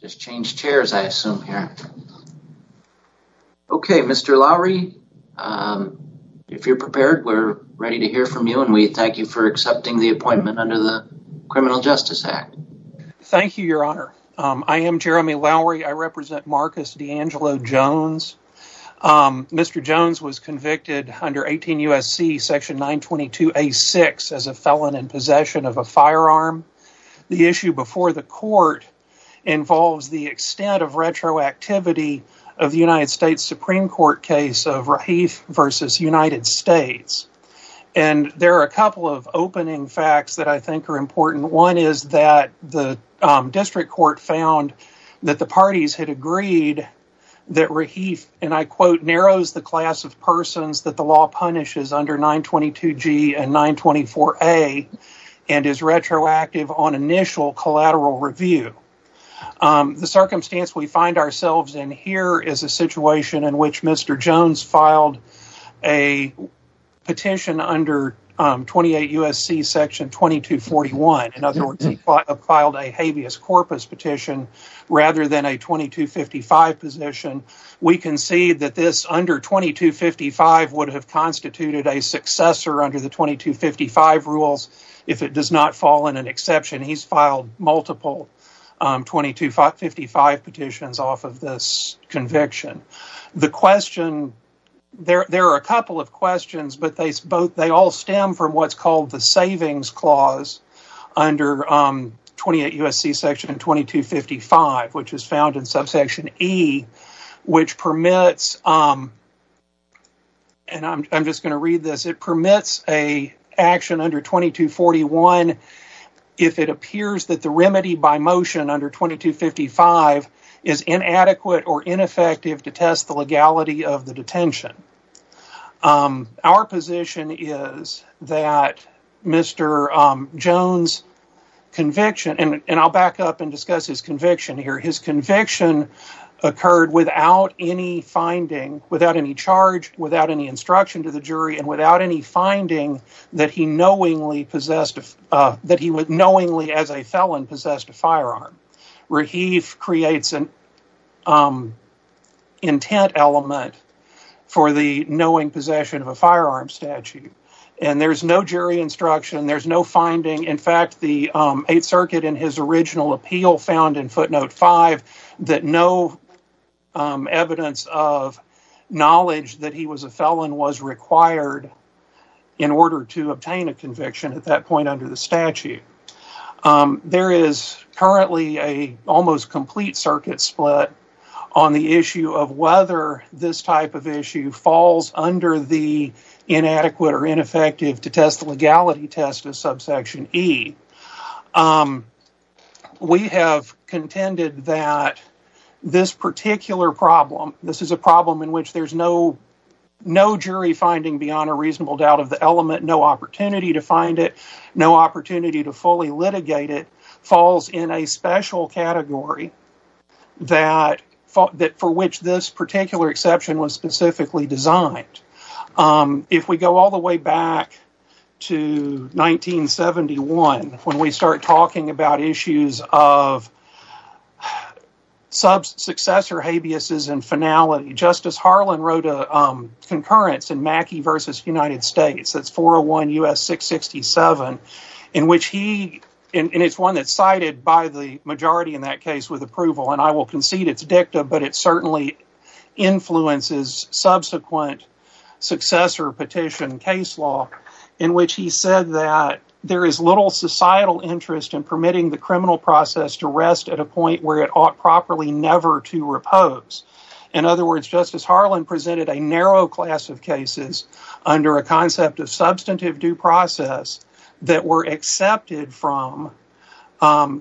just changed chairs I assume here. Okay, Mr. Lowry, if you're prepared we're ready to hear from you and we thank you for accepting the appointment under the Criminal Justice Act. Thank you, your honor. I am Jeremy Lowry. I represent Marcus DeAngelo Jones. Mr. Jones was convicted under 18 U.S.C. section 922a6 as a felon in possession of a firearm. The issue before the court involves the extent of retroactivity of the United States Supreme Court case of Rahif versus United States. And there are a couple of opening facts that I think are important. One is that the district court found that the parties had agreed that Rahif, and I quote, narrows the class of persons that the law punishes under 922g and 924a and is retroactive on initial collateral review. The circumstance we find ourselves in here is a situation in which Mr. Jones filed a petition under 28 U.S.C. section 2241. In other words, he filed a habeas corpus petition rather than a 2255 position. We can see that this under 2255 would have constituted a successor under the 2255 rules if it does not fall in an exception. He's filed multiple 2255 petitions off of this conviction. The question, there are a couple of questions, but they all stem from what's which is found in subsection E, which permits, and I'm just going to read this, it permits an action under 2241 if it appears that the remedy by motion under 2255 is inadequate or ineffective to test the legality of the detention. Our position is that Mr. Jones' conviction, and I'll back up and discuss his conviction here, his conviction occurred without any finding, without any charge, without any instruction to the jury, and without any finding that he knowingly as a felon possessed a firearm. Raheef creates an intent element for the knowing possession of a firearm statute, and there's no jury instruction, there's no finding. In fact, the 8th circuit in his original appeal found in footnote 5 that no evidence of knowledge that he was a felon was required in order to obtain a conviction at that point under the statute. There is currently an almost complete circuit split on the issue of whether this type of issue falls under the We have contended that this particular problem, this is a problem in which there's no no jury finding beyond a reasonable doubt of the element, no opportunity to find it, no opportunity to fully litigate it, falls in a special category that for which this particular exception was specifically designed. If we go all the way back to 1971, when we start talking about issues of sub-successor habeas and finality, Justice Harlan wrote a concurrence in Mackey v. United States, that's 401 U.S. 667, in which he, and it's one that's cited by the majority in that case with approval, and I will concede it's dicta, but it certainly influences subsequent successor petition case law in which he said that there is little societal interest in permitting the criminal process to rest at a point where it ought properly never to repose. In other words, Justice Harlan presented a narrow class of cases under a concept of substantive due process that were accepted from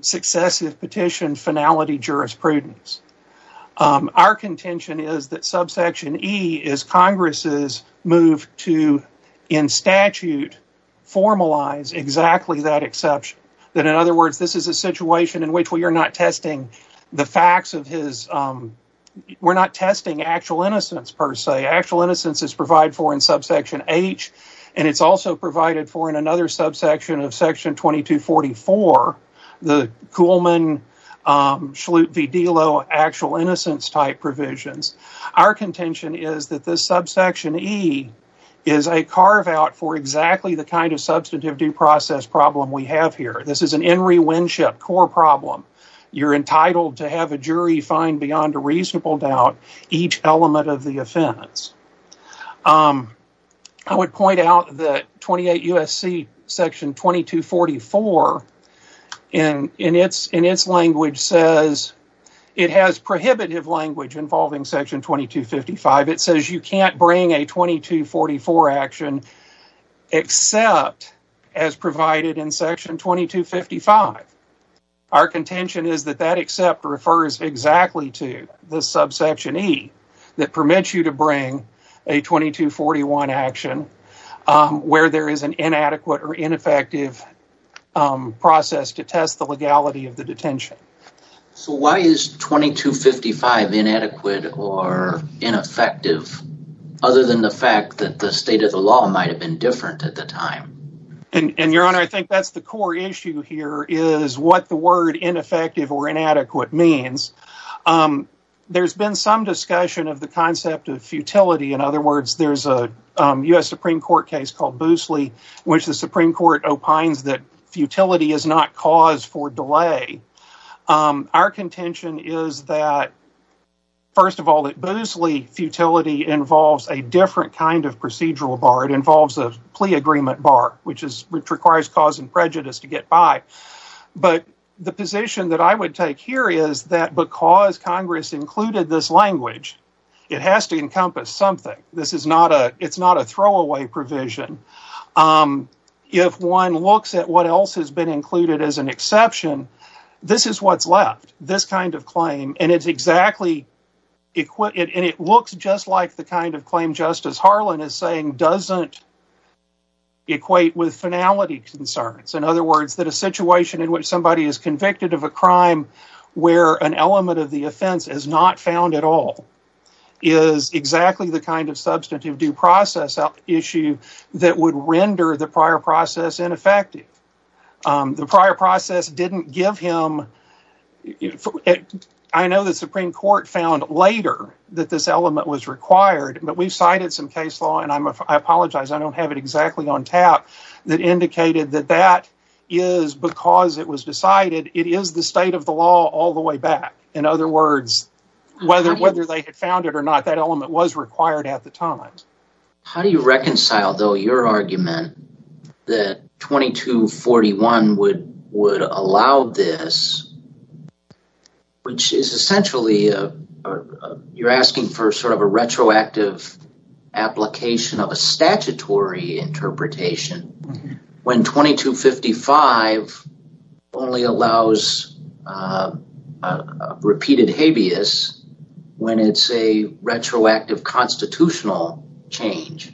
successive petition finality jurisprudence. Our contention is that subsection E is Congress's move to, in statute, formalize exactly that exception, that in other words, this is a situation in which we are not testing the facts of his, we're not testing actual innocence per se. Actual innocence is provided for in subsection H, and it's also provided for in another subsection of section 2244, the Kuhlman-Schlute v. Delo actual innocence type provisions. Our contention is that this subsection E is a carve out for exactly the kind of substantive due process problem we have here. This is an Enri Winship core problem. You're entitled to have a jury find beyond a reasonable doubt each element of the offense. I would point 2255. It says you can't bring a 2244 action except as provided in section 2255. Our contention is that that except refers exactly to the subsection E that permits you to bring a 2241 action where there is an inadequate or ineffective process to test the legality of the detention. So why is 2255 inadequate or ineffective other than the fact that the state of the law might have been different at the time? And your honor, I think that's the core issue here, is what the word ineffective or inadequate means. There's been some discussion of the concept of futility. In other words, there's a U.S. Supreme Court case called Boosley, which the Supreme Court opines that futility is not cause for delay. Our contention is that, first of all, at Boosley, futility involves a different kind of procedural bar. It involves a plea agreement bar, which requires cause and prejudice to get by. But the position that I would take here is that because Congress included this language, it has to encompass something. It's not a throwaway provision. If one looks at what else has been included as an exception, this is what's left. This kind of claim. And it looks just like the kind of claim Justice Harlan is saying doesn't equate with finality concerns. In other words, that a situation in which somebody is convicted of a crime where an element of the offense is not found at all is exactly the kind of substantive due process issue that would render the prior process ineffective. The prior process didn't give him... I know the Supreme Court found later that this element was required, but we've cited some case law, and I apologize, I don't have it exactly on tap, that indicated that that is because it was decided, it is the state of the required at the time. How do you reconcile, though, your argument that 2241 would allow this, which is essentially you're asking for sort of a retroactive application of a statutory interpretation, when 2255 only allows repeated habeas when it's a retroactive constitutional change?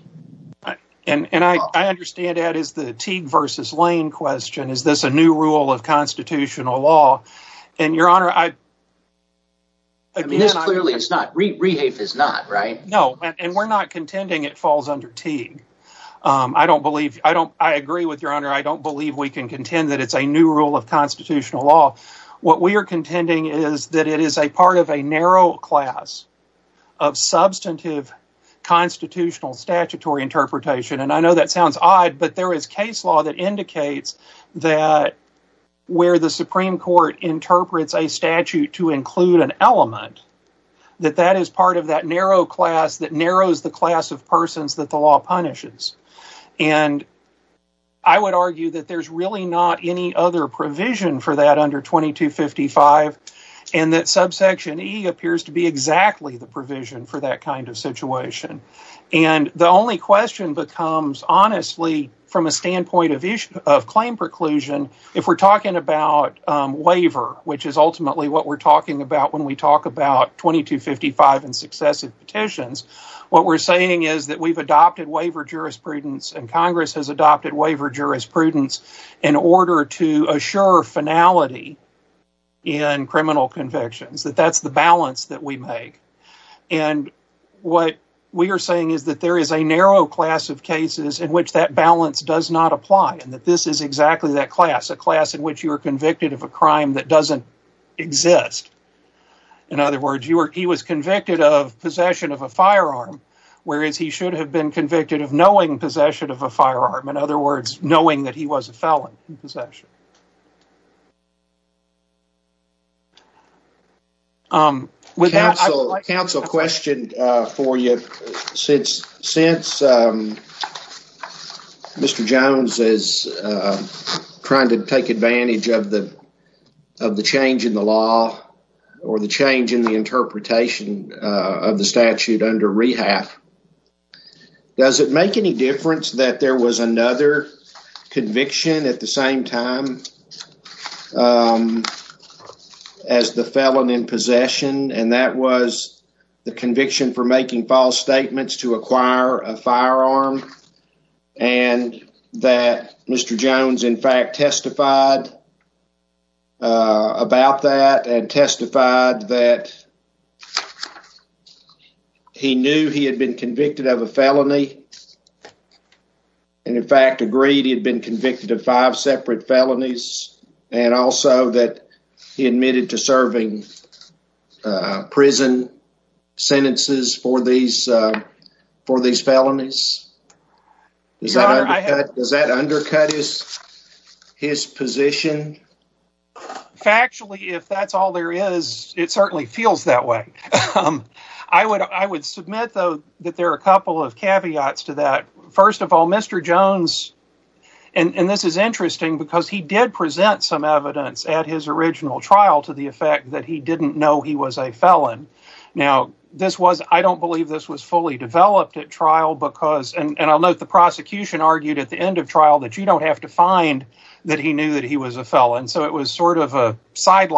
And I understand that is the Teague versus Lane question. Is this a new rule of constitutional law? And, Your Honor, I... I mean, this clearly is not. Rehafe is not, right? No, and we're not contending it falls under Teague. I don't believe, I don't, I agree with Your Honor, I don't believe we can contend that it's a new rule of constitutional law. What we are contending is that it is a part of a narrow class of substantive constitutional statutory interpretation, and I know that sounds odd, but there is case law that indicates that where the Supreme Court interprets a statute to include an element, that that is part of that narrow class that narrows the class of persons that the law punishes. And I would argue that there's really not any other provision for that under 2255, and that subsection E appears to be exactly the provision for that kind of situation. And the only question becomes, honestly, from a standpoint of claim preclusion, if we're talking about waiver, which is ultimately what we're talking about when we talk about 2255 and successive petitions, what we're saying is that we've adopted waiver jurisprudence and Congress has adopted waiver jurisprudence in order to assure finality in criminal convictions, that that's the balance that we make. And what we are saying is that there is a narrow class of cases in which that balance does not apply, and that this is exactly that class, a class in which you are convicted of a crime that doesn't exist. In other words, he was convicted of possession of a firearm, whereas he should have been convicted of knowing possession of a firearm, in other words, knowing that he was a felon in possession. Council, a question for you. Since Mr. Jones is trying to take advantage of the of the change in the law or the change in the interpretation of the statute under rehab, does it make any difference that there was another conviction at the same time as the felon in possession, and that was the conviction for making false statements to acquire a firearm, and that Mr. Jones, in fact, testified about that and testified that he knew he had been convicted of a felony and, in fact, agreed he had been convicted of five separate felonies, and also that he admitted to serving prison sentences for these for these felonies? Does that undercut his position? Factually, if that's all there is, it certainly feels that way. I would submit, though, that there are a couple of caveats to that. First of all, Mr. Jones, and this is interesting because he did present some evidence at his original trial to the effect that he didn't know he was a felon. Now, I don't believe this was fully developed at trial because, and I'll note the prosecution argued at the end of trial that you don't have to find that he knew that he was a felon, so it was sort of a side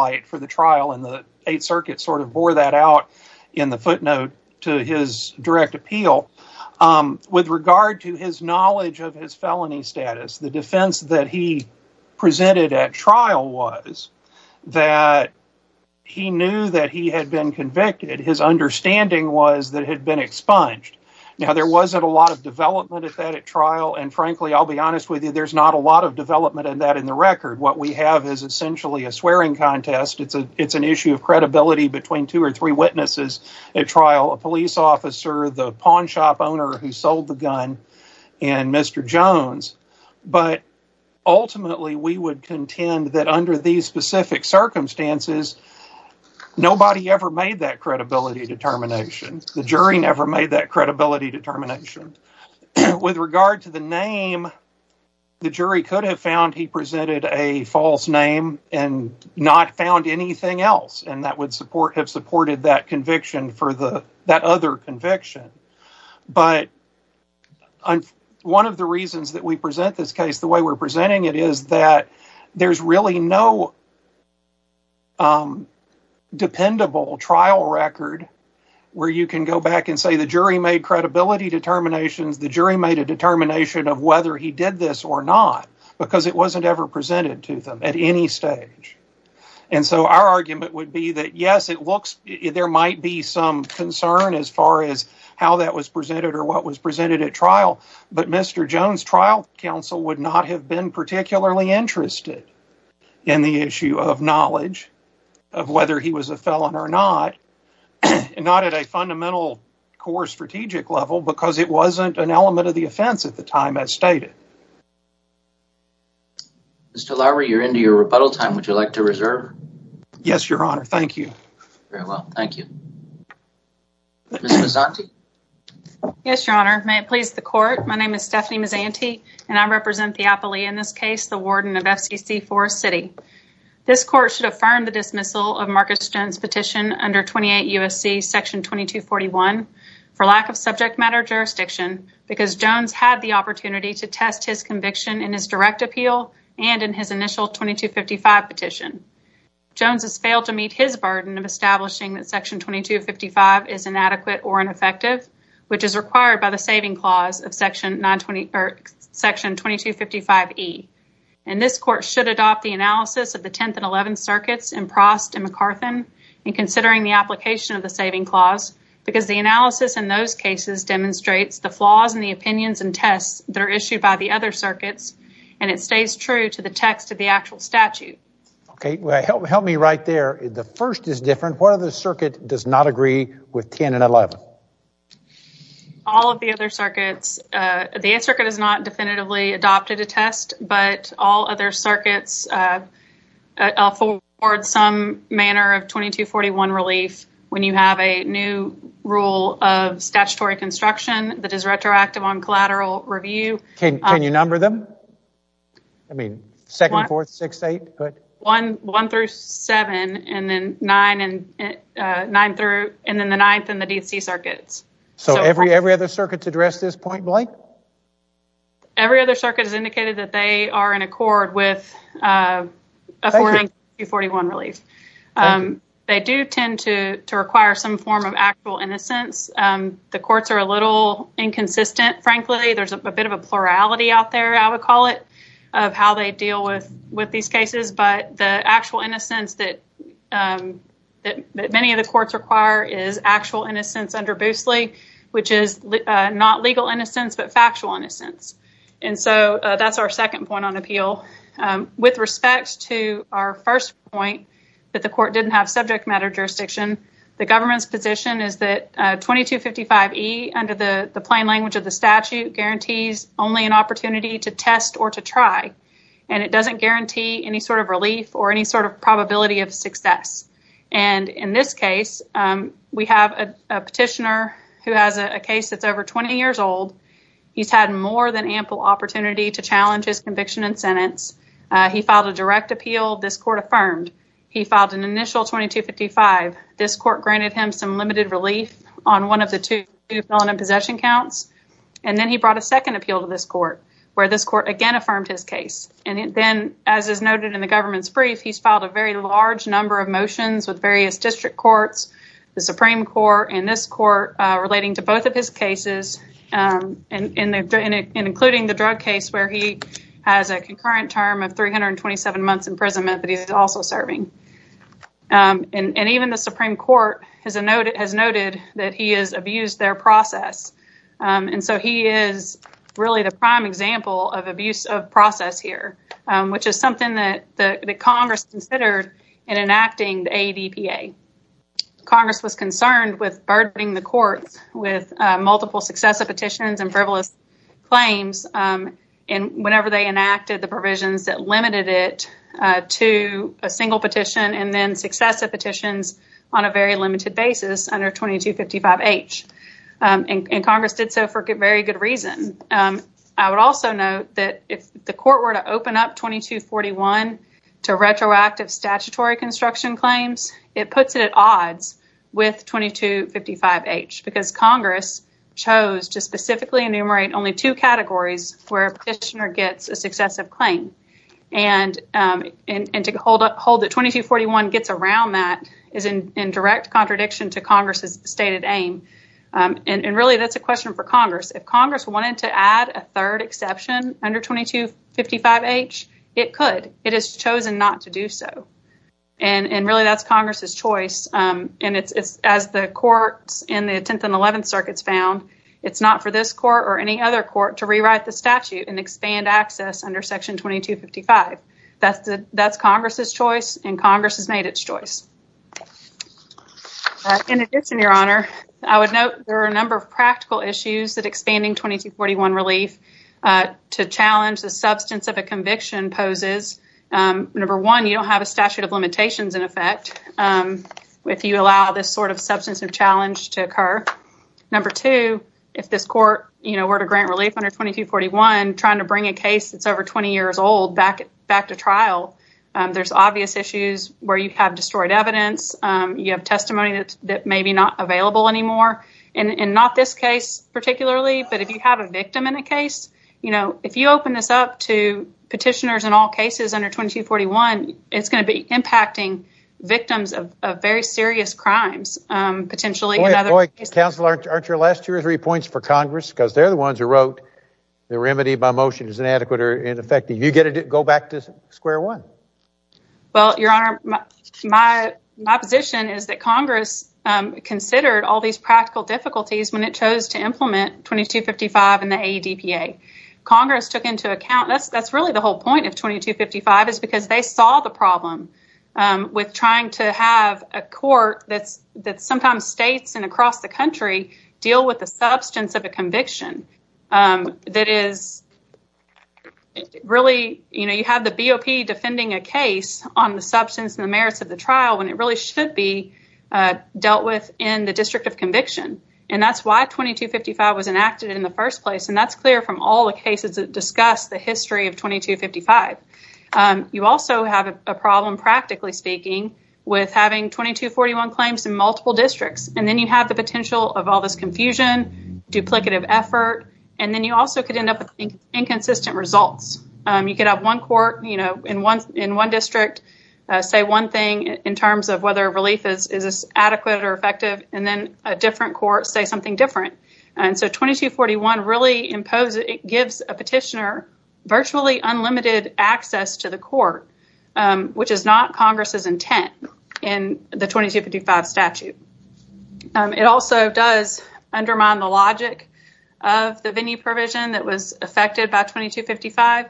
trial, and the Eighth Circuit sort of bore that out in the footnote to his direct appeal. With regard to his knowledge of his felony status, the defense that he presented at trial was that he knew that he had been convicted. His understanding was that he had been expunged. Now, there wasn't a lot of development at that trial, and frankly, I'll be honest with you, there's not a lot of development in that in the record. What we have is essentially a swearing contest. It's an issue of credibility between two or three witnesses at trial, a police officer, the pawn shop owner who sold the gun, and Mr. Jones, but ultimately, we would contend that under these specific circumstances, nobody ever made that credibility determination. The jury never made that credibility determination. With regard to the name, the jury could have found he presented a false name and not found anything else, and that would have supported that conviction for that other conviction, but one of the reasons that we present this case the way we're presenting it is that there's really no dependable trial record where you can go back and say the jury made credibility determinations, the jury made a determination of whether he did this or not because it wasn't ever presented to them at any stage, and so our argument would be that, yes, there might be some concern as far as how that was presented or what was presented at trial, but Mr. Jones' trial counsel would not have been particularly interested in the issue of knowledge of whether he was a felon or not, not at a fundamental core strategic level because it wasn't an element of the offense at the time, as stated. Mr. Lowry, you're into your rebuttal time. Would you like to reserve? Yes, Your Honor. Thank you. Very well. Thank you. Ms. Mazzanti? Yes, Your Honor. May it please the court. My name is Stephanie Mazzanti, and I represent the theopoly in this case, the warden of FCC Forest City. This court should affirm the dismissal of Marcus Jones' petition under 28 U.S.C. section 2241 for lack of subject matter jurisdiction because Jones had the opportunity to test his conviction in his direct appeal and in his initial 2255 petition. Jones has failed to meet his burden of establishing that section 2255 is inadequate or ineffective, which is required by the saving of the 10th and 11th circuits in Prost and McCarthan, and considering the application of the saving clause because the analysis in those cases demonstrates the flaws in the opinions and tests that are issued by the other circuits, and it stays true to the text of the actual statute. Okay. Help me right there. The first is different. What other circuit does not agree with 10 and 11? All of the other circuits. The 8th circuit has not definitively adopted a test, but all other circuits afford some manner of 2241 relief when you have a new rule of statutory construction that is retroactive on collateral review. Can you number them? I mean, 2nd, 4th, 6th, 8th? 1 through 7, and then 9 through, and then the 9th and the D.C. circuits. So every other circuit's addressed this point blank? Every other circuit has indicated that they are in accord with affording 241 relief. They do tend to require some form of actual innocence. The courts are a little inconsistent, frankly. There's a bit of a plurality out there, I would call it, of how they deal with these cases, but the actual innocence that many of the courts require is actual innocence under Boosley, which is not legal innocence, but factual innocence. And so that's our 2nd point on appeal. With respect to our 1st point, that the court didn't have subject matter jurisdiction, the government's position is that 2255E, under the plain language of the statute, guarantees only an opportunity to test or to try, and it doesn't guarantee any sort of relief or any sort of probability of success. And in this case, we have a petitioner who has a case that's over 20 years old. He's had more than ample opportunity to challenge his conviction and sentence. He filed a direct appeal, this court affirmed. He filed an initial 2255. This court granted him some limited relief on one of the two felony possession counts, and then he brought a 2nd appeal to this court, where this court again affirmed his case. And then, as is noted in the government's brief, he's filed a very large number of motions with various district courts, the Supreme Court, and this court, relating to both of his cases, including the drug case where he has a concurrent term of 327 months in prison, but he's also serving. And even the Supreme Court has noted that he has abused their process. And so he is really the prime example of abuse of process here, which is something that Congress considered in enacting the ADPA. Congress was concerned with burdening the courts with multiple successive petitions and frivolous claims whenever they enacted the provisions that limited it to a single petition and then successive petitions on a very limited basis under 2255H. And Congress did so for a very good reason. I would also note that if the court were to open up 2241 to retroactive statutory construction claims, it puts it at odds with 2255H because Congress chose to specifically enumerate only two categories where a petitioner gets a successive claim. And to hold that 2241 gets around that is in direct contradiction to Congress's stated aim. And really, that's a question for Congress. If Congress wanted to add a third exception under 2255H, it could. It has chosen not to do so. And really, that's Congress's choice. And as the courts in the 10th and 11th circuits found, it's not for this court or any other court to rewrite the statute and expand access under section 2255. That's Congress's choice, and Congress has made its choice. In addition, Your Honor, I would note there are a number of practical issues that expanding 2241 relief to challenge the substance of a conviction poses. Number one, you don't have a statute of limitations in effect if you allow this sort of substantive challenge to occur. Number two, if this court were to grant relief under 2241 trying to bring a case that's over 20 years old back to trial, there's obvious issues where you have destroyed evidence, you have testimony that may be not available anymore. And not this case particularly, but if you have a victim in a case, you know, if you open this up to petitioners in all cases under 2241, it's going to be impacting victims of very serious crimes, potentially. Boy, boy, counsel, aren't your last two or three points for Congress? Because they're the ones who the remedy by motion is inadequate or ineffective. You get to go back to square one. Well, Your Honor, my position is that Congress considered all these practical difficulties when it chose to implement 2255 in the ADPA. Congress took into account, that's really the whole point of 2255, is because they saw the problem with trying to have a court that sometimes states and across the country deal with the substance of a conviction. That is really, you know, you have the BOP defending a case on the substance and the merits of the trial when it really should be dealt with in the district of conviction. And that's why 2255 was enacted in the first place. And that's clear from all the cases that discuss the history of 2255. You also have a problem, practically speaking, with having 2241 claims in multiple districts. And then you have the potential of all this confusion, duplicative effort, and then you also could end up with inconsistent results. You could have one court, you know, in one district say one thing in terms of whether relief is adequate or effective, and then a different court say something different. And so 2241 really gives a petitioner virtually unlimited access to the court, which is not Congress's intent in the 2255 statute. It also does undermine the logic of the VINI provision that was effected by 2255,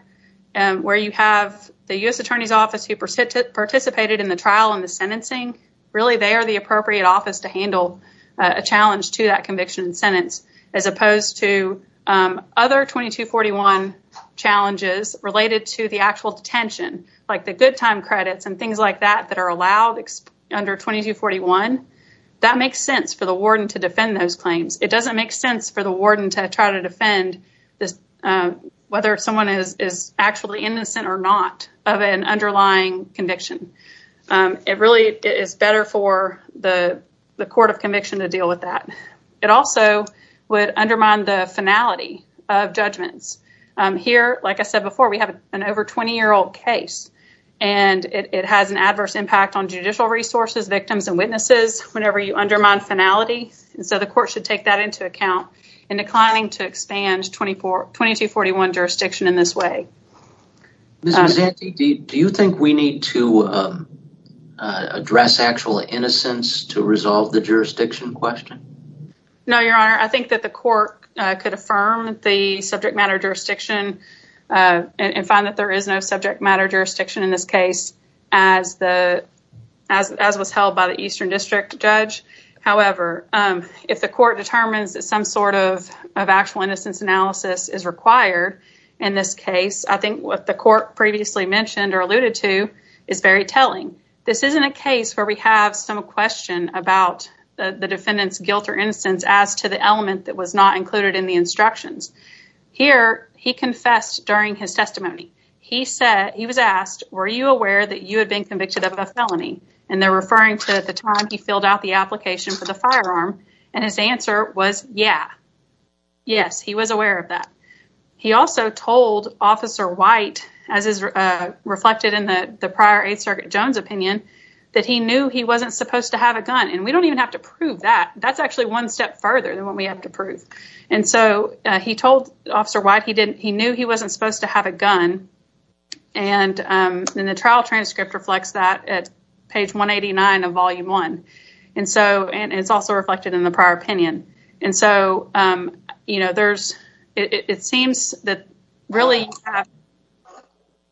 and where you have the U.S. Attorney's Office who participated in the trial and the sentencing, really they are the appropriate office to handle a challenge to that conviction and sentence, as opposed to other 2241 challenges related to the good time credits and things like that that are allowed under 2241. That makes sense for the warden to defend those claims. It doesn't make sense for the warden to try to defend whether someone is actually innocent or not of an underlying conviction. It really is better for the court of conviction to deal with that. It also would undermine the finality of judgments. Here, like I said before, we have an over 20-year-old case, and it has an adverse impact on judicial resources, victims, and witnesses whenever you undermine finality. And so the court should take that into account in declining to expand 2241 jurisdiction in this way. Ms. Exante, do you think we need to address actual innocence to resolve the jurisdiction question? No, Your Honor. I think that the court could affirm the subject matter jurisdiction and find that there is no subject matter jurisdiction in this case as was held by the Eastern District Judge. However, if the court determines that some sort of actual innocence analysis is required in this case, I think what the court previously mentioned or alluded to is very telling. This isn't a case where we have some question about the defendant's guilt or innocence as to the element that was not included in the instructions. Here, he confessed during his testimony. He said, he was asked, were you aware that you had been convicted of a felony? And they're referring to the time he filled out the application for the firearm, and his answer was, yeah. Yes, he was aware of that. He also told Officer White, as is reflected in the prior 8th Circuit Jones opinion, that he knew he wasn't supposed to have a gun. And we don't even have to prove that. That's actually one step further than what we have to prove. And so he told Officer White he knew he wasn't supposed to have a gun. And then the trial transcript reflects that at page 189 of Volume 1. And it's also reflected in the prior opinion. It seems that really,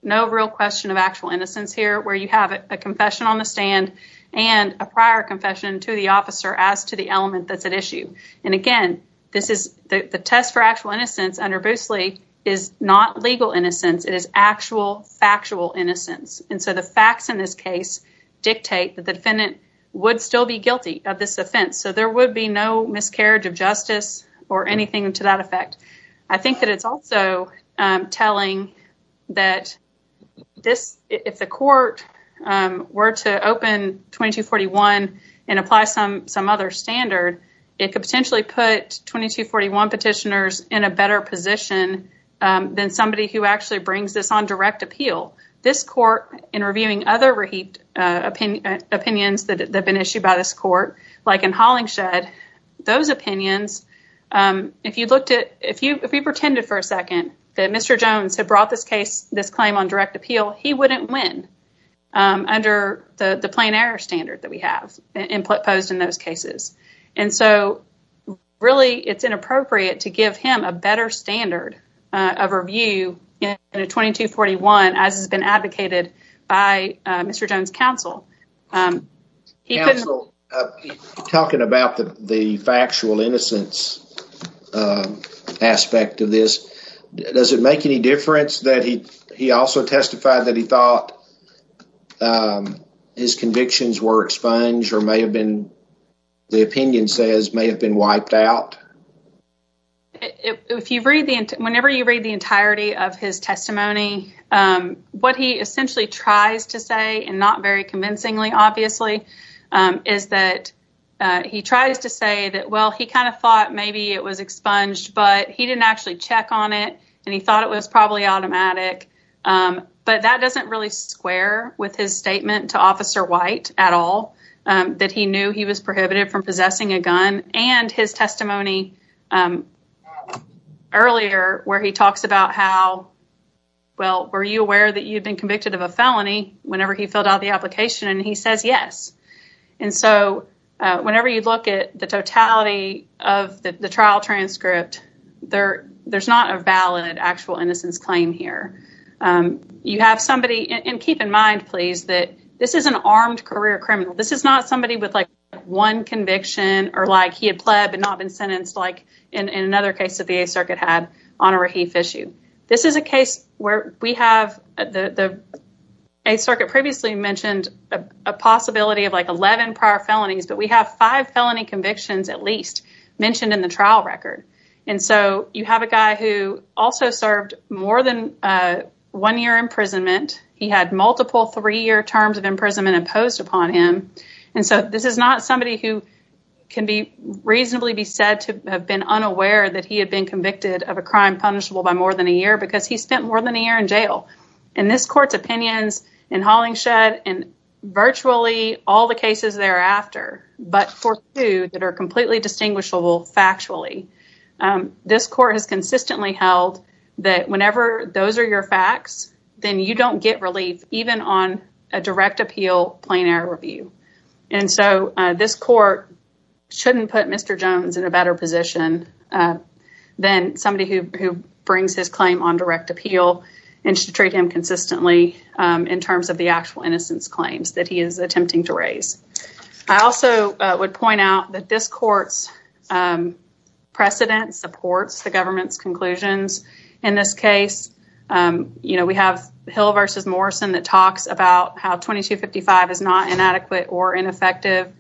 no real question of actual innocence here, where you have a confession on the stand and a prior confession to the officer as to the element that's at issue. And again, the test for actual innocence under Boosley is not legal innocence. It is actual, dictate that the defendant would still be guilty of this offense. So there would be no miscarriage of justice or anything to that effect. I think that it's also telling that if the court were to open 2241 and apply some other standard, it could potentially put 2241 petitioners in a better position than somebody who actually brings this on direct appeal. This court, in reviewing other opinions that have been issued by this court, like in Hollingshed, those opinions, if you pretended for a second that Mr. Jones had brought this claim on direct appeal, he wouldn't win under the plain error standard that we have imposed in those cases. And so really, it's inappropriate to give him a better standard of review in 2241, as has been advocated by Mr. Jones' counsel. Counsel, talking about the factual innocence aspect of this, does it make any difference that he also testified that he thought his convictions were expunged or may have been, the opinion says, may have been wiped out? Whenever you read the entirety of his testimony, what he essentially tries to say, and not very convincingly, obviously, is that he tries to say that, well, he kind of thought maybe it was expunged, but he didn't actually check on it, and he thought it was probably automatic. But that doesn't really square with his statement to Officer White at all, that he knew he was prohibited from possessing a gun, and his testimony earlier, where he talks about how, well, were you aware that you'd been convicted of a felony whenever he filled out the application, and he says yes. And so whenever you look at the totality of the trial transcript, there's not a valid actual claim here. You have somebody, and keep in mind, please, that this is an armed career criminal. This is not somebody with like one conviction, or like he had pled but not been sentenced like in another case that the Eighth Circuit had on a Rahif issue. This is a case where we have, the Eighth Circuit previously mentioned a possibility of like 11 prior felonies, but we have five felony convictions at least mentioned in the trial record. And so you have a guy who also served more than one year imprisonment. He had multiple three-year terms of imprisonment imposed upon him. And so this is not somebody who can reasonably be said to have been unaware that he had been convicted of a crime punishable by more than a year because he spent more than a year in jail. And this court's opinions in Hollingshed, and virtually all the cases thereafter, but for two that are completely distinguishable factually, this court has consistently held that whenever those are your facts, then you don't get relief even on a direct appeal plain error review. And so this court shouldn't put Mr. Jones in a better position than somebody who brings his claim on direct appeal and should treat him consistently in terms of the actual innocence claims that he is attempting to raise. I also would point out that this court's precedent supports the government's conclusions. In this case, you know, we have Hill versus Morrison that talks about how 2255 is not inadequate or ineffective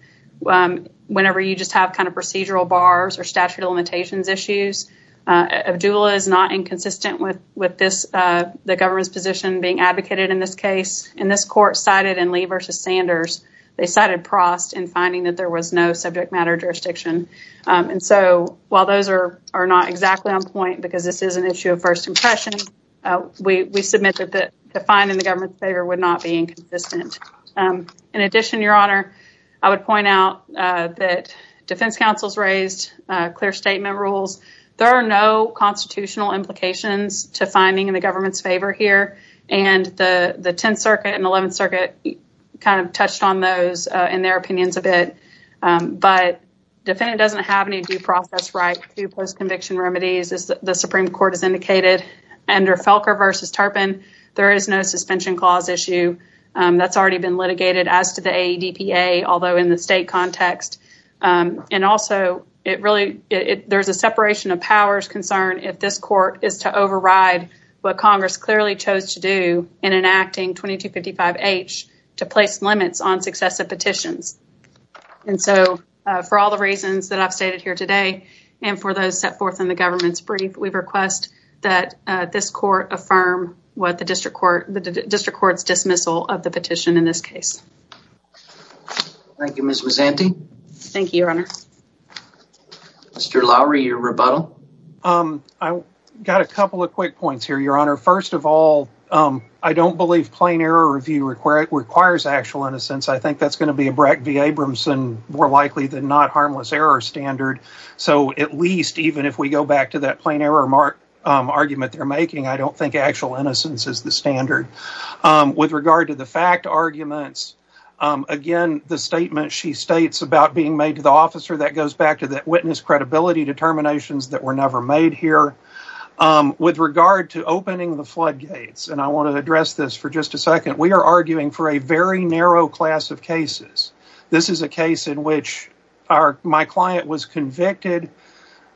whenever you just have kind of procedural bars or statute of limitations issues. Abdullah is not inconsistent with this, the government's position being advocated in this court cited in Lee versus Sanders, they cited Prost in finding that there was no subject matter jurisdiction. And so while those are not exactly on point, because this is an issue of first impression, we submit that the fine in the government's favor would not be inconsistent. In addition, your honor, I would point out that defense counsels raised clear statement rules. There are no constitutional implications to finding in the government's favor here. And the 10th Circuit and 11th Circuit kind of touched on those in their opinions a bit. But defendant doesn't have any due process right to post-conviction remedies as the Supreme Court has indicated. Under Felker versus Turpin, there is no suspension clause issue that's already been litigated as to the ADPA, although in the state context. And also, it really, there's a separation of powers concern if this court is to override what Congress clearly chose to do in enacting 2255H to place limits on successive petitions. And so, for all the reasons that I've stated here today, and for those set forth in the government's brief, we request that this court affirm what the district court, the district court's dismissal of the petition in this case. Thank you, Ms. Mazzanti. Thank you, your honor. Mr. Lowry, your rebuttal. I got a couple of quick points here, your honor. First of all, I don't believe plain error review requires actual innocence. I think that's going to be a Breck v. Abramson more likely than not harmless error standard. So, at least, even if we go back to that plain error argument they're making, I don't think actual innocence is the standard. With regard to the fact arguments, again, the statement she states about being made to the officer, that goes back to that witness credibility determinations that were never made here. With regard to opening the floodgates, and I want to address this for just a second, we are arguing for a very narrow class of cases. This is a case in which my client was convicted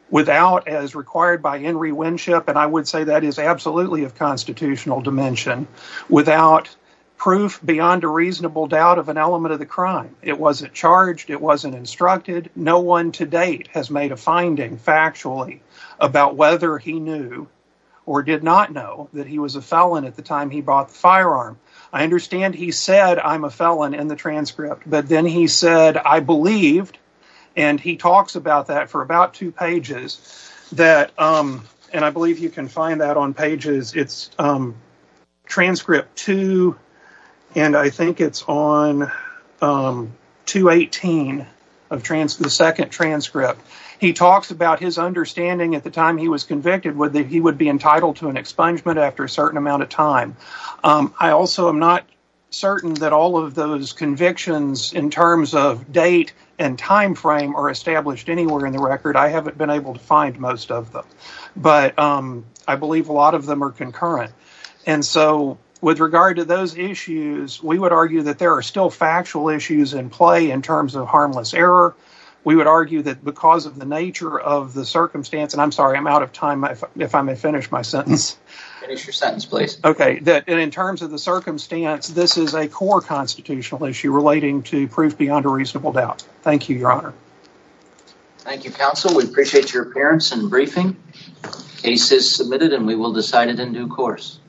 without as required by Henry Winship, and I would say that is absolutely of constitutional dimension. Without proof beyond a reasonable doubt of an element of the crime. It wasn't charged, it wasn't instructed, no one to date has made a finding factually about whether he knew or did not know that he was a felon at the time he brought the firearm. I understand he said I'm a felon in the transcript, but then he said I believed, and he talks about that for about two pages. It's transcript two, and I think it's on 218, the second transcript. He talks about his understanding at the time he was convicted, whether he would be entitled to an expungement after a certain amount of time. I also am not certain that all of those convictions in terms of date and time frame are established anywhere in the record. I haven't been able to find most of them, but I believe a lot of them are concurrent, and so with regard to those issues, we would argue that there are still factual issues in play in terms of harmless error. We would argue that because of the nature of the circumstance, and I'm sorry, I'm out of time, if I may finish my sentence. Finish your sentence, please. Okay, and in terms of the circumstance, this is a core constitutional issue relating to proof beyond a reasonable doubt. Thank you, your honor. Thank you, counsel. We appreciate your appearance and briefing. Case is submitted, and we will decide it in due course.